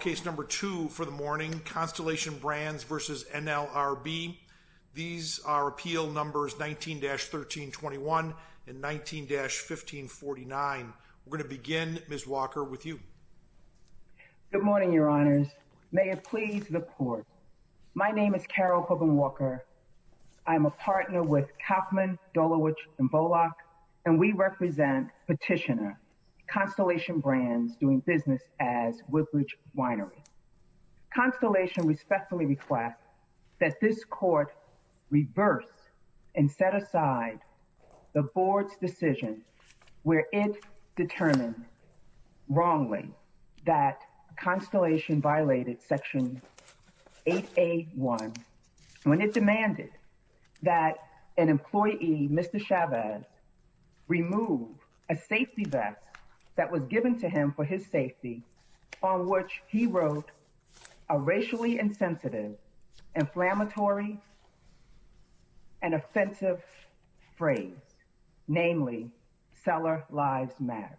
Case No. 2 for the morning, Constellation Brands v. NLRB. These are appeal numbers 19-1321 and 19-1549. We are going to begin, Ms. Walker, with you. Good morning, Your Honors. May it please the Court, my name is Carol Hogan-Walker. I'm a partner with Kauffman, Dulawich, and Bollock, and we represent Petitioner, Constellation Brands, doing business as Woodbridge Winery. Constellation respectfully requests that this Court reverse and set aside the Board's decision where it determined wrongly that Constellation violated Section 8A.1 when it demanded that an employee, Mr. Chavez, remove a safety vest that was given to him for his safety, on which he wrote a racially insensitive, inflammatory, and offensive phrase, namely, Seller Lives Matter.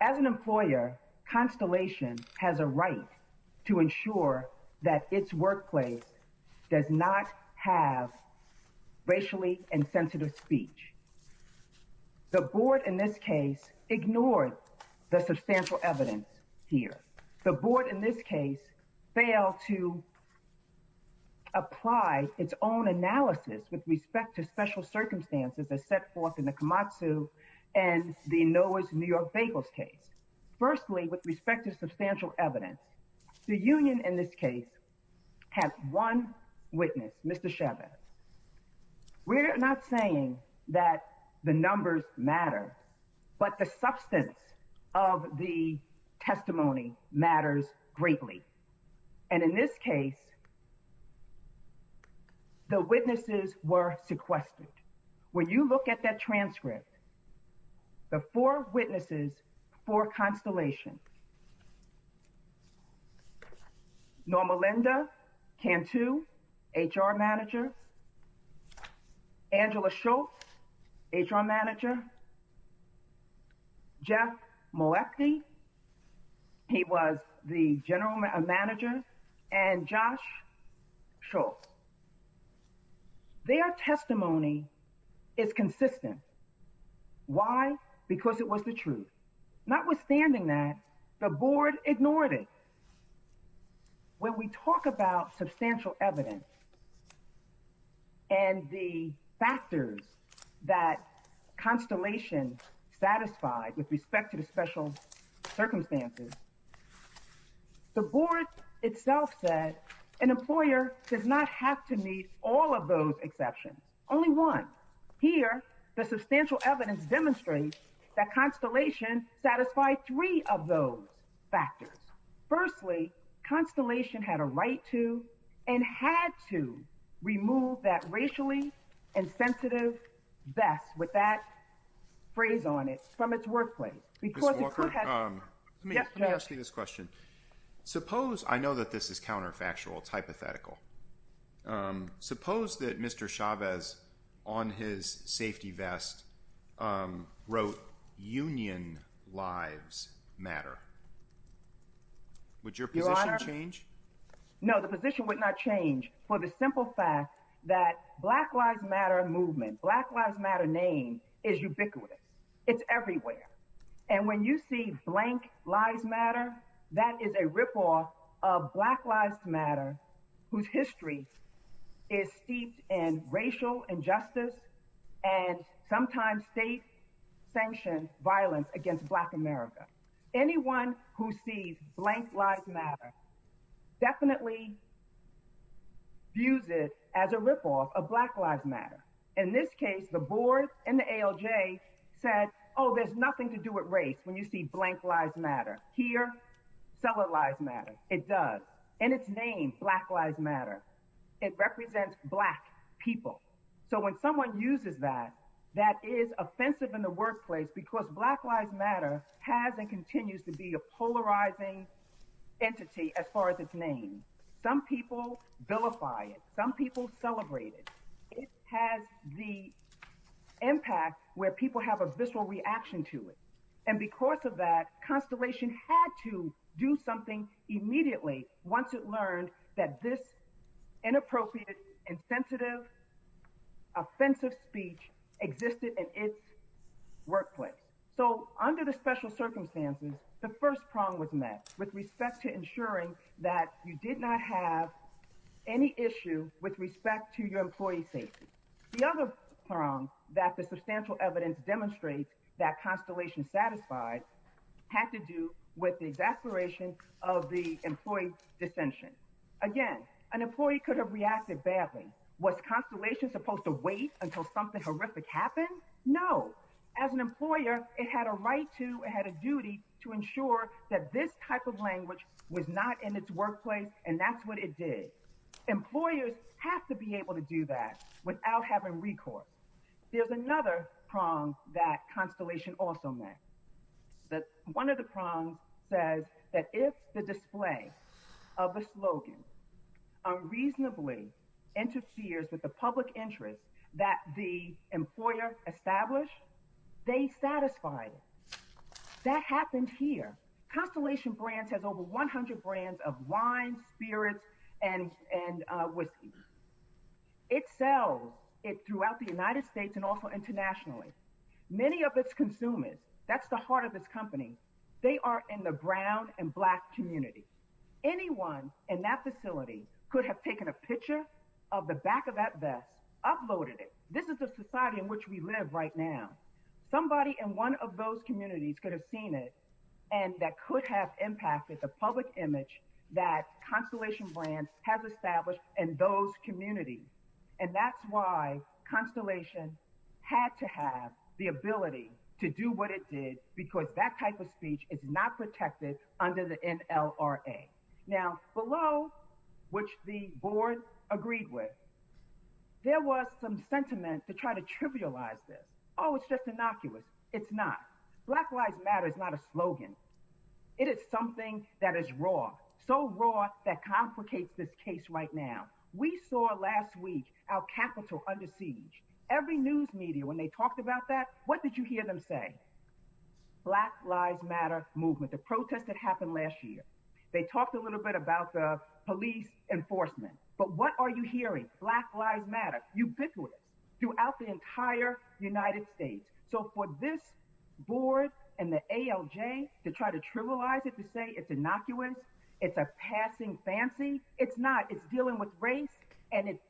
As an employer, Constellation has a right to ensure that its workplace does not have racially insensitive speech. The Board, in this case, ignored the substantial evidence here. The Board, in this case, failed to apply its own analysis with respect to special circumstances as set forth in the Kamatsu and the Noah's New York Bagels case. Firstly, with respect to substantial evidence, the Union, in this case, has one witness, Mr. Chavez. We're not saying that the numbers matter, but the substance of the testimony matters greatly. And in this case, the witnesses were sequestered. When you look at that transcript, the four witnesses for Constellation, Norma Linda Cantu, HR Manager, Angela Schultz, HR Manager, Jeff Moeckde, he was the General Manager, and Josh Schultz. Their testimony is consistent. Why? Because it was the truth. Notwithstanding that, the Board ignored it. When we talk about substantial evidence and the factors that Constellation satisfied with respect to the special circumstances, the Board itself said an employer does not have to meet all of those exceptions, only one. Here, the substantial evidence demonstrates that Constellation satisfied three of those factors. Firstly, Constellation had a right to and had to remove that racially insensitive best, with that phrase on it, from its workplace. Mr. Walker, let me ask you this question. I know that this is counterfactual. It's hypothetical. Suppose that Mr. Chavez, on his safety vest, wrote, Union Lives Matter. Would your position change? No, the position would not change for the simple fact that Black Lives Matter movement, Black Lives Matter name, is ubiquitous. It's everywhere. And when you see Blank Lives Matter, that is a ripoff of Black Lives Matter, whose history is steeped in racial injustice and sometimes state-sanctioned violence against Black America. Anyone who sees Blank Lives Matter definitely views it as a ripoff of Black Lives Matter. In this case, the Board and the ALJ said, oh, there's nothing to do with race when you see Blank Lives Matter. Here, Solid Lives Matter. It does. And its name, Black Lives Matter, it represents Black people. So when someone uses that, that is offensive in the workplace because Black Lives Matter has and continues to be a polarizing entity as far as its name. Some people vilify it. Some people celebrate it. It has the impact where people have a visceral reaction to it. And because of that, Constellation had to do something immediately once it learned that this inappropriate, insensitive, offensive speech existed in its workplace. So under the special circumstances, the first prong was met with respect to ensuring that you did not have any issue with respect to your employee safety. The other prong that the substantial evidence demonstrates that Constellation satisfied had to do with the exasperation of the employee dissension. Again, an employee could have reacted badly. Was Constellation supposed to wait until something horrific happened? No. As an employer, it had a right to, it had a duty to ensure that this type of language was not in its workplace, and that's what it did. Employers have to be able to do that without having recourse. There's another prong that Constellation also met. One of the prongs says that if the display of a slogan unreasonably interferes with the public interest that the employer established, they satisfied it. That happened here. Constellation Brands has over 100 brands of wine, spirits, and whiskey. It sells it throughout the United States and also internationally. Many of its consumers, that's the heart of this company, they are in the brown and black community. Anyone in that facility could have taken a picture of the back of that vest, uploaded it. This is the society in which we live right now. Somebody in one of those communities could have seen it, and that could have impacted the public image that Constellation Brands has established in those communities, and that's why Constellation had to have the ability to do what it did because that type of speech is not protected under the NLRA. Now, below, which the board agreed with, there was some sentiment to try to trivialize this. Oh, it's just innocuous. It's not. Black Lives Matter is not a slogan. It is something that is raw, so raw that complicates this case right now. We saw last week our Capitol under siege. Every news media, when they talked about that, what did you hear them say? Black Lives Matter movement, the protest that happened last year. They talked a little bit about the police enforcement, but what are you hearing? Black Lives Matter, ubiquitous throughout the entire United States. So for this board and the ALJ to try to trivialize it to say it's innocuous, it's a passing fancy, it's not. It's dealing with race, and it's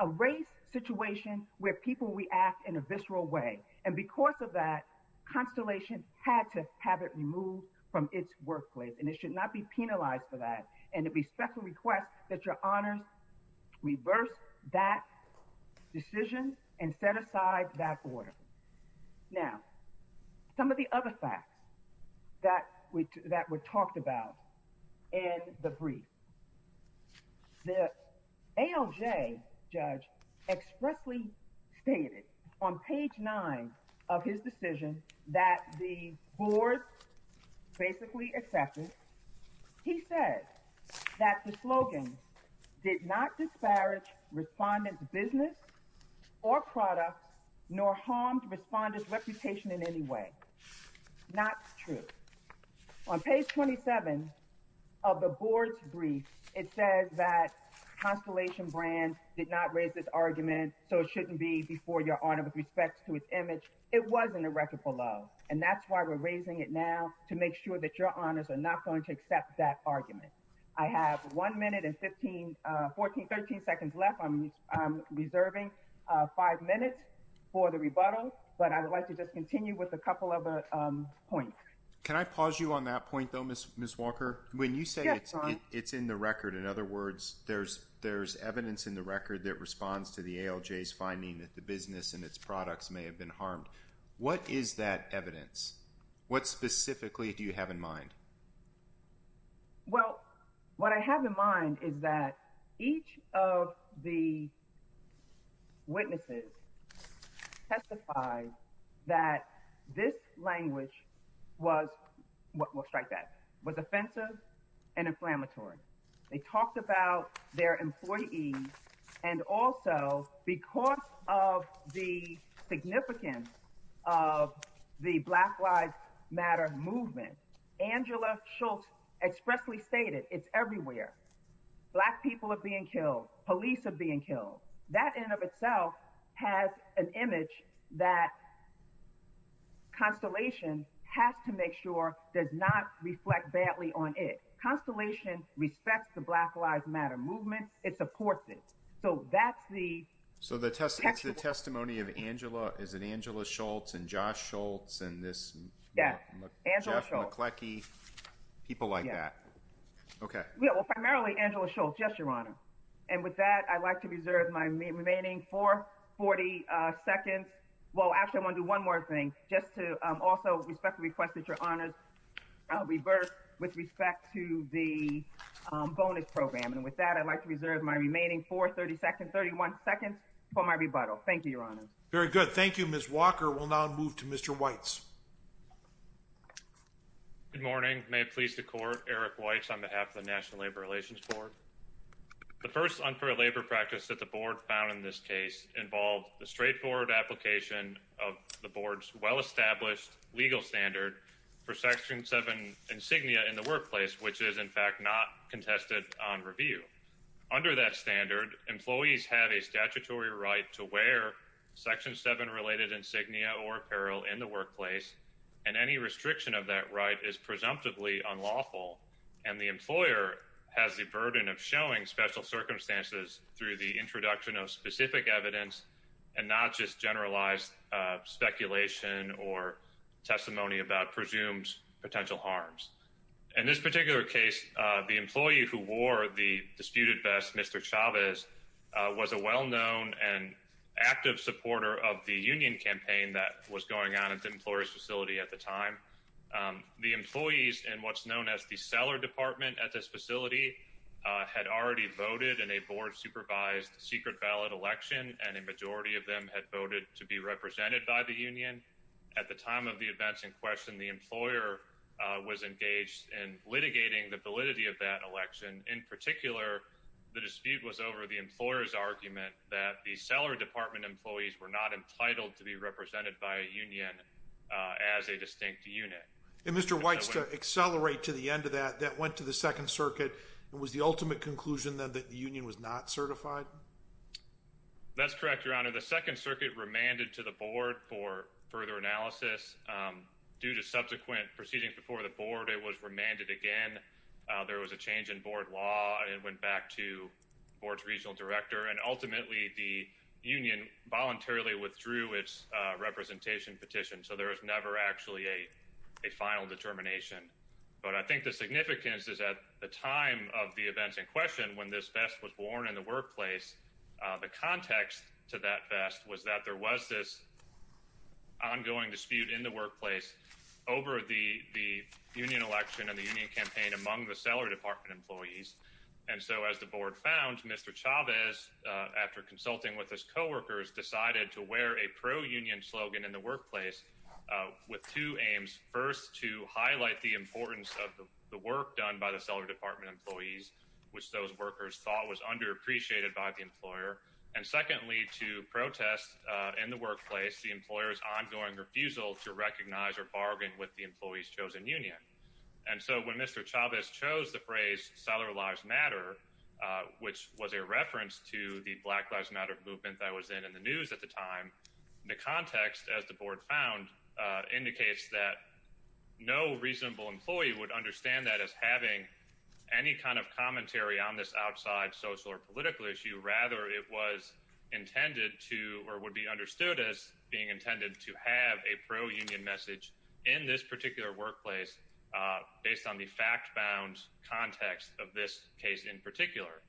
a race situation where people react in a visceral way. And because of that, Constellation had to have it removed from its workplace, and it should not be penalized for that. And it would be special request that your honors reverse that decision and set aside that order. Now, some of the other facts that were talked about in the brief. The ALJ judge expressly stated on page nine of his decision that the board basically accepted. He said that the slogan did not disparage respondents' business or product, nor harmed respondents' reputation in any way. Not true. On page 27 of the board's brief, it says that Constellation brand did not raise this argument, so it shouldn't be before your honor with respect to its image. It wasn't a record for love, and that's why we're raising it now to make sure that your honors are not going to accept that argument. I have one minute and 13 seconds left. I'm reserving five minutes for the rebuttal, but I would like to just continue with a couple of points. Can I pause you on that point, though, Ms. Walker? When you say it's in the record, in other words, there's evidence in the record that responds to the ALJ's finding that the business and its products may have been harmed. What is that evidence? What specifically do you have in mind? Well, what I have in mind is that each of the witnesses testified that this language was—we'll strike that—was offensive and inflammatory. They talked about their employees, and also, because of the significance of the Black Lives Matter movement, Angela Schultz expressly stated, it's everywhere. Black people are being killed. Police are being killed. That in and of itself has an image that Constellation has to make sure does not reflect badly on it. Constellation respects the Black Lives Matter movement. It supports it. So that's the— So it's the testimony of Angela—is it Angela Schultz and Josh Schultz and this— Yes, Angela Schultz. Jeff McCleckie, people like that. Okay. Well, primarily Angela Schultz, yes, Your Honor. And with that, I'd like to reserve my remaining 440 seconds—well, actually, I want to do one more thing, just to also respectfully request that Your Honors revert with respect to the bonus program. And with that, I'd like to reserve my remaining 430 seconds—31 seconds for my rebuttal. Thank you, Your Honors. Very good. Thank you, Ms. Walker. We'll now move to Mr. Weitz. Good morning. May it please the Court, Eric Weitz on behalf of the National Labor Relations Board. The first unfair labor practice that the Board found in this case involved the straightforward application of the Board's well-established legal standard for Section 7 insignia in the workplace, which is in fact not contested on review. Under that standard, employees have a statutory right to wear Section 7-related insignia or apparel in the workplace, and any restriction of that right is presumptively unlawful. And the employer has the burden of showing special circumstances through the introduction of specific evidence and not just generalized speculation or testimony about presumed potential harms. In this particular case, the employee who wore the disputed vest, Mr. Chavez, was a well-known and active supporter of the union campaign that was going on at the employer's facility at the time. The employees in what's known as the seller department at this facility had already voted in a Board-supervised secret ballot election, and a majority of them had voted to be represented by the union. At the time of the events in question, the employer was engaged in litigating the validity of that election. In particular, the dispute was over the employer's argument that the seller department employees were not entitled to be represented by a union as a distinct unit. And Mr. Weitz, to accelerate to the end of that, that went to the Second Circuit. Was the ultimate conclusion then that the union was not certified? That's correct, Your Honor. The Second Circuit remanded to the Board for further analysis. Due to subsequent proceedings before the Board, it was remanded again. There was a change in Board law, and it went back to the Board's regional director. And ultimately, the union voluntarily withdrew its representation petition, so there was never actually a final determination. But I think the significance is that at the time of the events in question, when this vest was worn in the workplace, the context to that vest was that there was this ongoing dispute in the workplace over the union election and the union campaign among the seller department employees. And so as the Board found, Mr. Chavez, after consulting with his co-workers, decided to wear a pro-union slogan in the workplace with two aims. First, to highlight the importance of the work done by the seller department employees, which those workers thought was underappreciated by the employer. And secondly, to protest in the workplace the employer's ongoing refusal to recognize or bargain with the employee's chosen union. And so when Mr. Chavez chose the phrase, Seller Lives Matter, which was a reference to the Black Lives Matter movement that was in the news at the time, the context, as the Board found, indicates that no reasonable employee would understand that as having any kind of commentary on this outside social or political issue. Rather, it was intended to or would be understood as being intended to have a pro-union message in this particular workplace based on the fact-bound context of this case in particular.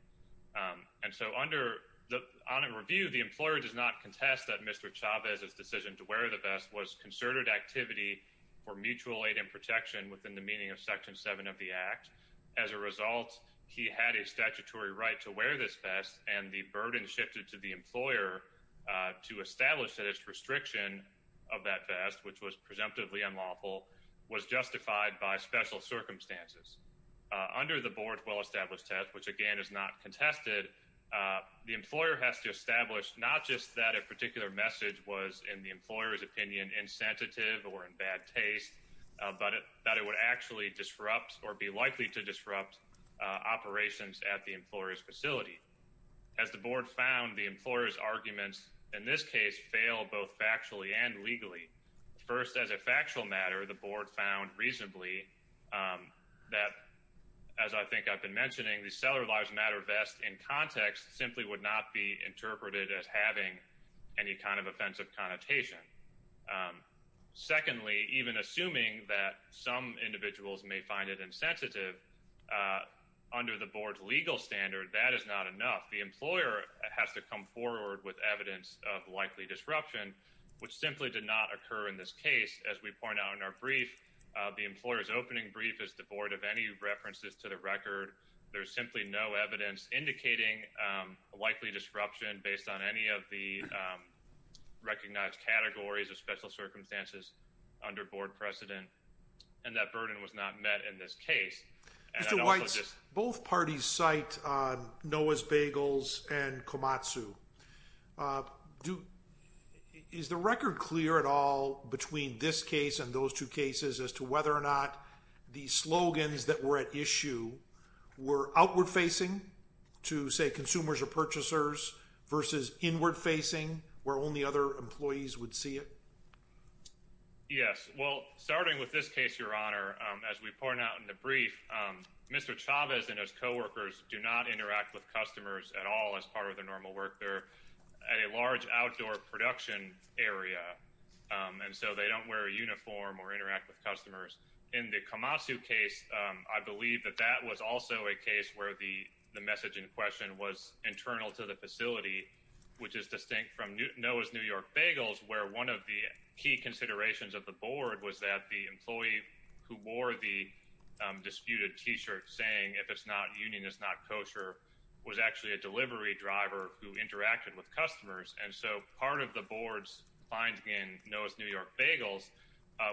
And so under the audit review, the employer does not contest that Mr. Chavez's decision to wear the vest was concerted activity for mutual aid and protection within the meaning of Section 7 of the Act. As a result, he had a statutory right to wear this vest, and the burden shifted to the employer to establish that its restriction of that vest, which was presumptively unlawful, was justified by special circumstances. Under the Board's well-established test, which again is not contested, the employer has to establish not just that a particular message was, in the employer's opinion, insensitive or in bad taste, but that it would actually disrupt or be likely to disrupt operations at the employer's facility. As the Board found, the employer's arguments in this case fail both factually and legally. First, as a factual matter, the Board found reasonably that, as I think I've been mentioning, the Cellular Lives Matter vest in context simply would not be interpreted as having any kind of offensive connotation. Secondly, even assuming that some individuals may find it insensitive, under the Board's legal standard, that is not enough. The employer has to come forward with evidence of likely disruption, which simply did not occur in this case. As we point out in our brief, the employer's opening brief is devoid of any references to the record. There's simply no evidence indicating a likely disruption based on any of the recognized categories of special circumstances under Board precedent, and that burden was not met in this case. Mr. Weitz, both parties cite Noah's Bagels and Komatsu. Is the record clear at all between this case and those two cases as to whether or not the slogans that were at issue were outward-facing to, say, consumers or purchasers versus inward-facing, where only other employees would see it? Yes. Well, starting with this case, Your Honor, as we point out in the brief, Mr. Chavez and his coworkers do not interact with customers at all as part of their normal work. They're at a large outdoor production area, and so they don't wear a uniform or interact with customers. In the Komatsu case, I believe that that was also a case where the message in question was internal to the facility, which is distinct from Noah's New York Bagels, where one of the key considerations of the Board was that the employee who wore the disputed T-shirt saying, if it's not union, it's not kosher, was actually a delivery driver who interacted with customers. And so part of the Board's finding in Noah's New York Bagels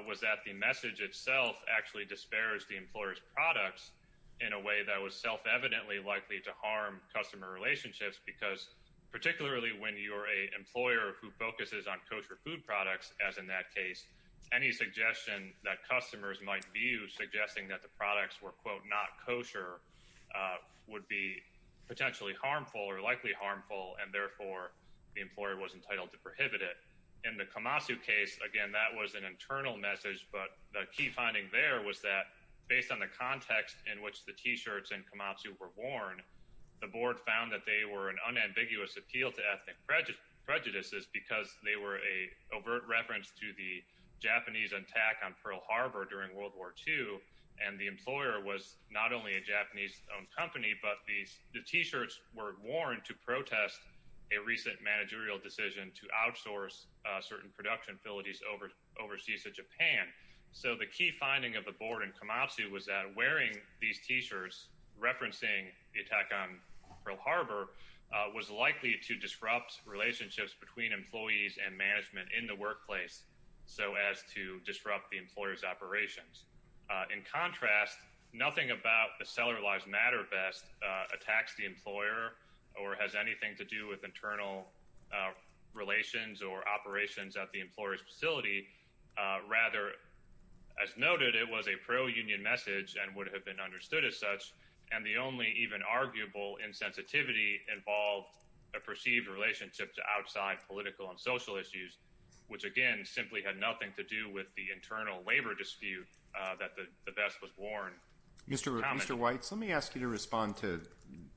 was that the message itself actually disparaged the employer's products in a way that was self-evidently likely to harm customer relationships, because particularly when you're an employer who focuses on kosher food products, as in that case, any suggestion that customers might view suggesting that the products were, quote, not kosher would be potentially harmful or likely harmful, and therefore the employer was entitled to prohibit it. In the Komatsu case, again, that was an internal message, but the key finding there was that based on the context in which the T-shirts in Komatsu were worn, the Board found that they were an unambiguous appeal to ethnic prejudices because they were an overt reference to the Japanese attack on Pearl Harbor during World War II, and the employer was not only a Japanese-owned company, but the T-shirts were worn to protest a recent managerial decision to outsource certain production facilities overseas to Japan. So the key finding of the Board in Komatsu was that wearing these T-shirts referencing the attack on Pearl Harbor was likely to disrupt relationships between employees and management in the workplace so as to disrupt the employer's operations. In contrast, nothing about the Cellular Lives Matter vest attacks the employer or has anything to do with internal relations or operations at the employer's facility. Rather, as noted, it was a pro-union message and would have been understood as such, and the only even arguable insensitivity involved a perceived relationship to outside political and social issues, which, again, simply had nothing to do with the internal labor dispute that the vest was worn. Mr. Weitz, let me ask you to respond to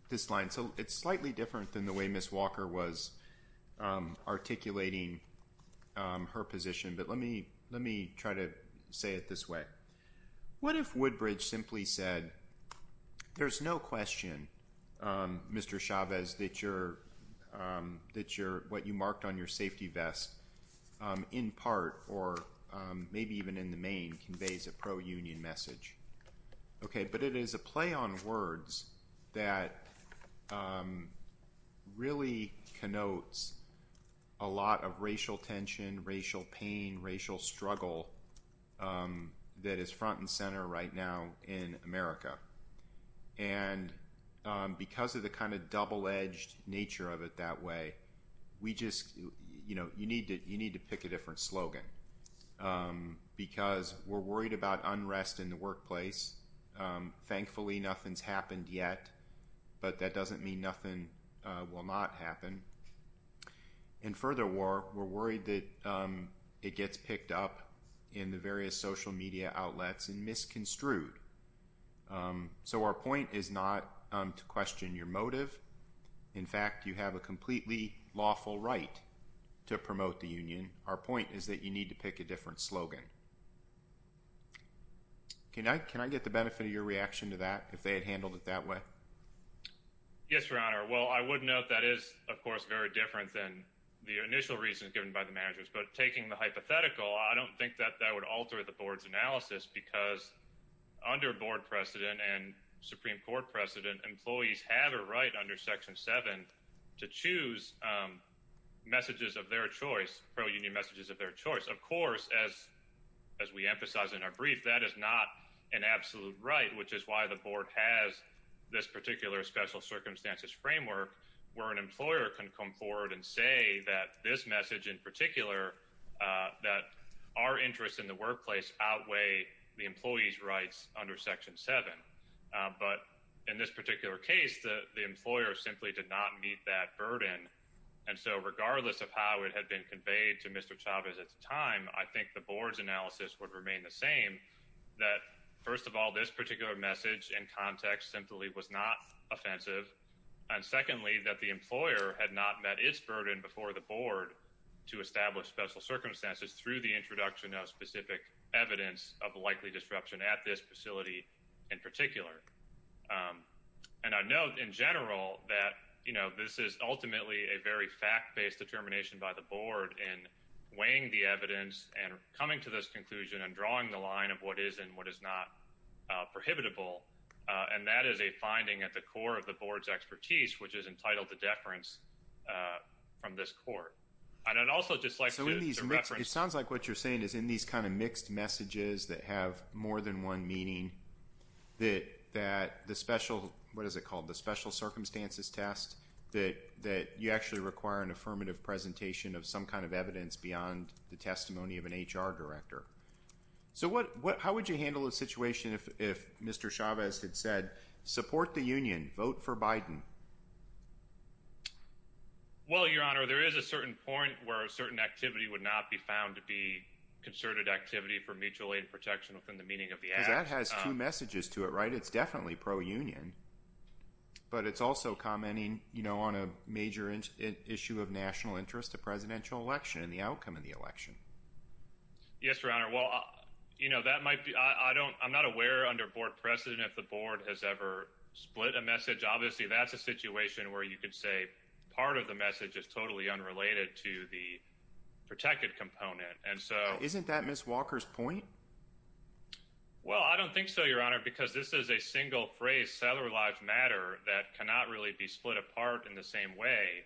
this line. So it's slightly different than the way Ms. Walker was articulating her position, but let me try to say it this way. What if Woodbridge simply said, there's no question, Mr. Chavez, that what you marked on your safety vest, in part or maybe even in the main, conveys a pro-union message? Okay, but it is a play on words that really connotes a lot of racial tension, racial pain, racial struggle that is front and center right now in America. And because of the kind of double-edged nature of it that way, you need to pick a different slogan, because we're worried about unrest in the workplace. Thankfully, nothing's happened yet, but that doesn't mean nothing will not happen. And furthermore, we're worried that it gets picked up in the various social media outlets and misconstrued. So our point is not to question your motive. In fact, you have a completely lawful right to promote the union. Our point is that you need to pick a different slogan. Can I get the benefit of your reaction to that, if they had handled it that way? Yes, Your Honor. Well, I would note that is, of course, very different than the initial reasons given by the managers. But taking the hypothetical, I don't think that that would alter the board's analysis, because under board precedent and Supreme Court precedent, employees have a right under Section 7 to choose messages of their choice, pro-union messages of their choice. Of course, as we emphasized in our brief, that is not an absolute right, which is why the board has this particular special circumstances framework, where an employer can come forward and say that this message in particular, that our interests in the workplace outweigh the employees' rights under Section 7. But in this particular case, the employer simply did not meet that burden. And so regardless of how it had been conveyed to Mr. Chavez at the time, I think the board's analysis would remain the same, that first of all, this particular message and context simply was not offensive. And secondly, that the employer had not met its burden before the board to establish special circumstances through the introduction of specific evidence of likely disruption at this facility in particular. And I note in general that this is ultimately a very fact-based determination by the board in weighing the evidence and coming to this conclusion and drawing the line of what is and what is not prohibitable. And that is a finding at the core of the board's expertise, which is entitled to deference from this court. And I'd also just like to reference… So in these – it sounds like what you're saying is in these kind of mixed messages that have more than one meaning, that the special – what is it called? The special circumstances test, that you actually require an affirmative presentation of some kind of evidence beyond the testimony of an HR director. So how would you handle a situation if Mr. Chavez had said, support the union, vote for Biden? Well, Your Honor, there is a certain point where a certain activity would not be found to be concerted activity for mutual aid protection within the meaning of the act. Because that has two messages to it, right? It's definitely pro-union, but it's also commenting on a major issue of national interest, the presidential election and the outcome of the election. Yes, Your Honor. Well, that might be – I'm not aware under board precedent if the board has ever split a message. Obviously, that's a situation where you could say part of the message is totally unrelated to the protected component. Isn't that Ms. Walker's point? Well, I don't think so, Your Honor, because this is a single phrase, cellular lives matter, that cannot really be split apart in the same way.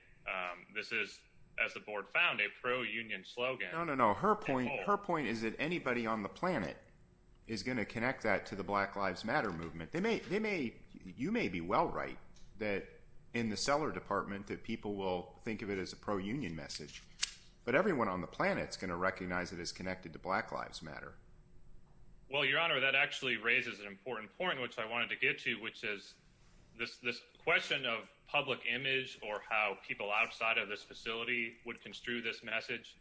This is, as the board found, a pro-union slogan. No, no, no. Her point is that anybody on the planet is going to connect that to the Black Lives Matter movement. You may be well right that in the Cellar Department that people will think of it as a pro-union message. But everyone on the planet is going to recognize it as connected to Black Lives Matter. Well, Your Honor, that actually raises an important point, which I wanted to get to, which is this question of public image or how people outside of this facility would construe this message.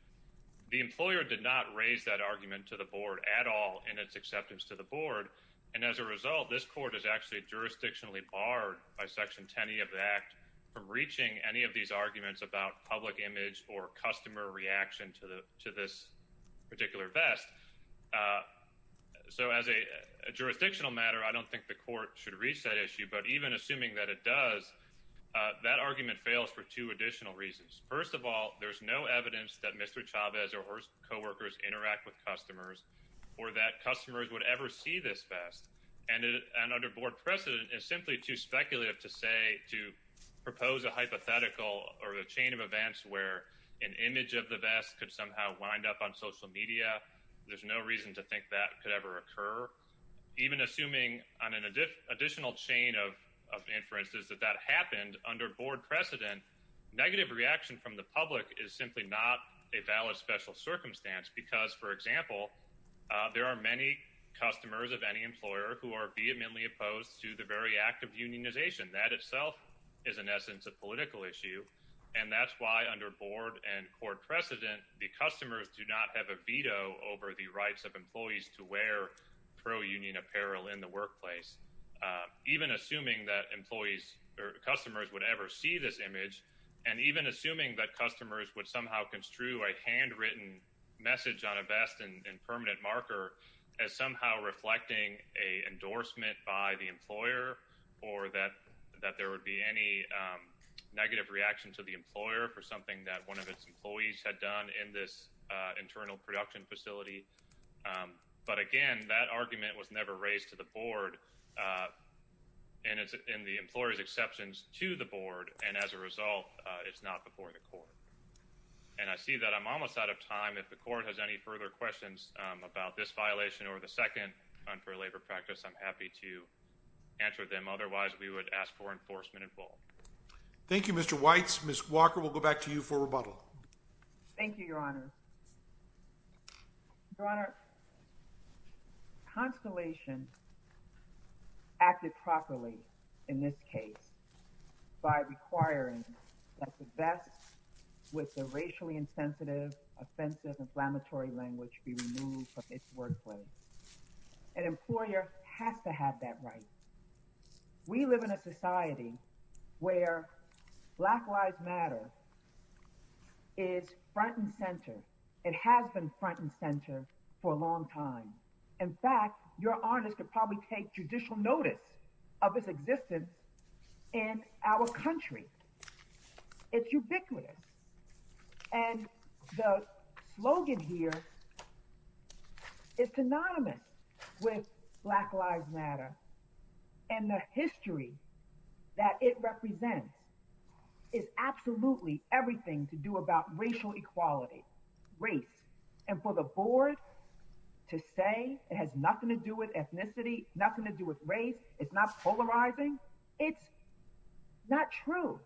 The employer did not raise that argument to the board at all in its acceptance to the board. And as a result, this court is actually jurisdictionally barred by Section 10E of the Act from reaching any of these arguments about public image or customer reaction to this particular vest. So as a jurisdictional matter, I don't think the court should reach that issue. But even assuming that it does, that argument fails for two additional reasons. First of all, there's no evidence that Mr. Chavez or his co-workers interact with customers or that customers would ever see this vest. And under board precedent, it's simply too speculative to say, to propose a hypothetical or a chain of events where an image of the vest could somehow wind up on social media. There's no reason to think that could ever occur. Even assuming on an additional chain of inferences that that happened under board precedent, negative reaction from the public is simply not a valid special circumstance. Because, for example, there are many customers of any employer who are vehemently opposed to the very act of unionization. That itself is, in essence, a political issue. And that's why under board and court precedent, the customers do not have a veto over the rights of employees to wear pro-union apparel in the workplace. Even assuming that employees or customers would ever see this image, and even assuming that customers would somehow construe a handwritten message on a vest and permanent marker, as somehow reflecting an endorsement by the employer or that there would be any negative reaction to the employer for something that one of its employees had done in this internal production facility. But again, that argument was never raised to the board, and it's in the employer's exceptions to the board. And as a result, it's not before the court. And I see that I'm almost out of time. If the court has any further questions about this violation or the second unfair labor practice, I'm happy to answer them. Otherwise, we would ask for enforcement in full. Thank you, Mr. Weitz. Ms. Walker, we'll go back to you for rebuttal. Thank you, Your Honor. Your Honor, Constellation acted properly in this case by requiring that the vest with the racially insensitive, offensive, inflammatory language be removed from its workplace. An employer has to have that right. We live in a society where Black Lives Matter is front and center. It has been front and center for a long time. In fact, Your Honor could probably take judicial notice of its existence in our country. It's ubiquitous. And the slogan here is synonymous with Black Lives Matter, and the history that it represents is absolutely everything to do about racial equality, race. And for the board to say it has nothing to do with ethnicity, nothing to do with race, it's not polarizing, it's not true.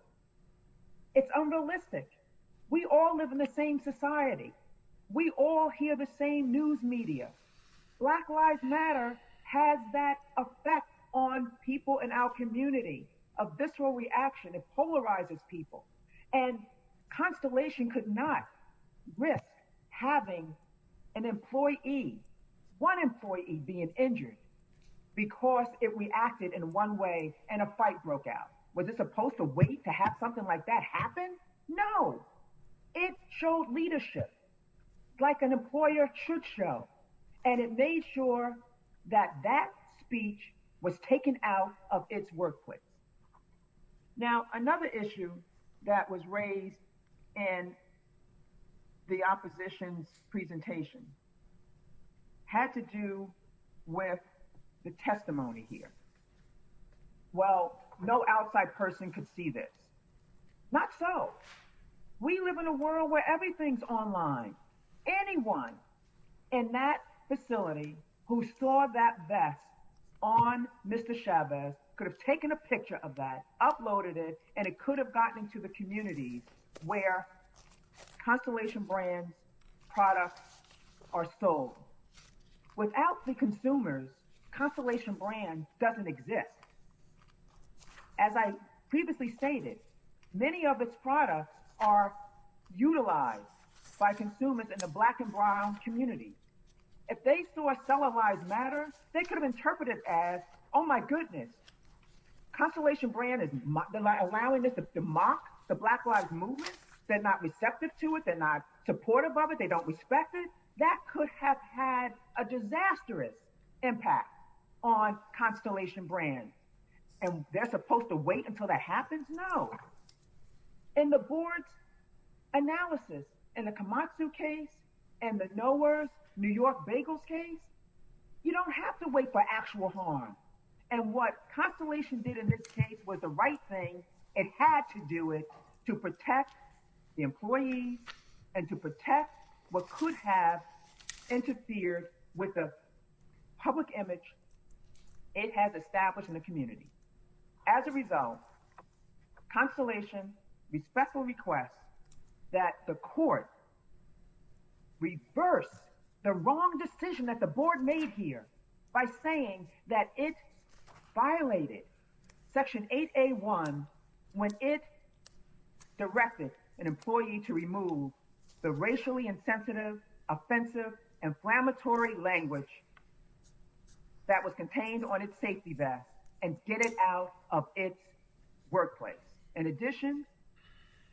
It's unrealistic. We all live in the same society. We all hear the same news media. Black Lives Matter has that effect on people in our community, a visceral reaction. It polarizes people. And Constellation could not risk having an employee, one employee, being injured because it reacted in one way and a fight broke out. Was it supposed to wait to have something like that happen? No. It showed leadership like an employer should show, and it made sure that that speech was taken out of its workplace. Now, another issue that was raised in the opposition's presentation had to do with the testimony here. Well, no outside person could see this. Not so. We live in a world where everything's online. Anyone in that facility who saw that vest on Mr. Chavez could have taken a picture of that, uploaded it, and it could have gotten into the communities where Constellation brand products are sold. Without the consumers, Constellation brand doesn't exist. As I previously stated, many of its products are utilized by consumers in the black and brown community. If they saw Cellulize Matter, they could have interpreted as, oh, my goodness, Constellation brand is allowing this to mock the Black Lives Movement. They're not receptive to it. They're not supportive of it. They don't respect it. That could have had a disastrous impact on Constellation brand, and they're supposed to wait until that happens? No. In the board's analysis, in the Komatsu case and the Knowers New York bagels case, you don't have to wait for actual harm, and what Constellation did in this case was the right thing. It had to do it to protect the employees and to protect what could have interfered with the public image it has established in the community. As a result, Constellation respectfully requests that the court reverse the wrong decision that the board made here by saying that it violated Section 8A1 when it directed an employee to remove the racially insensitive, offensive, inflammatory language that was contained on its safety vest and get it out of its workplace. In addition,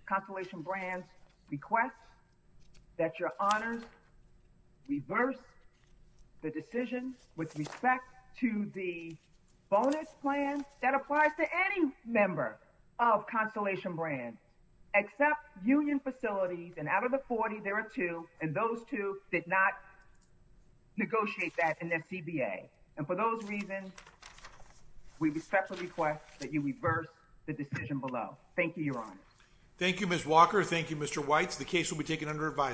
Constellation brand requests that your honors reverse the decision with respect to the bonus plan that applies to any member of Constellation brand except union facilities, and out of the 40, there are two, and those two did not negotiate that in their CBA. And for those reasons, we respectfully request that you reverse the decision below. Thank you, your honors. Thank you, Ms. Walker. Thank you, Mr. Weitz. The case will be taken under advisory.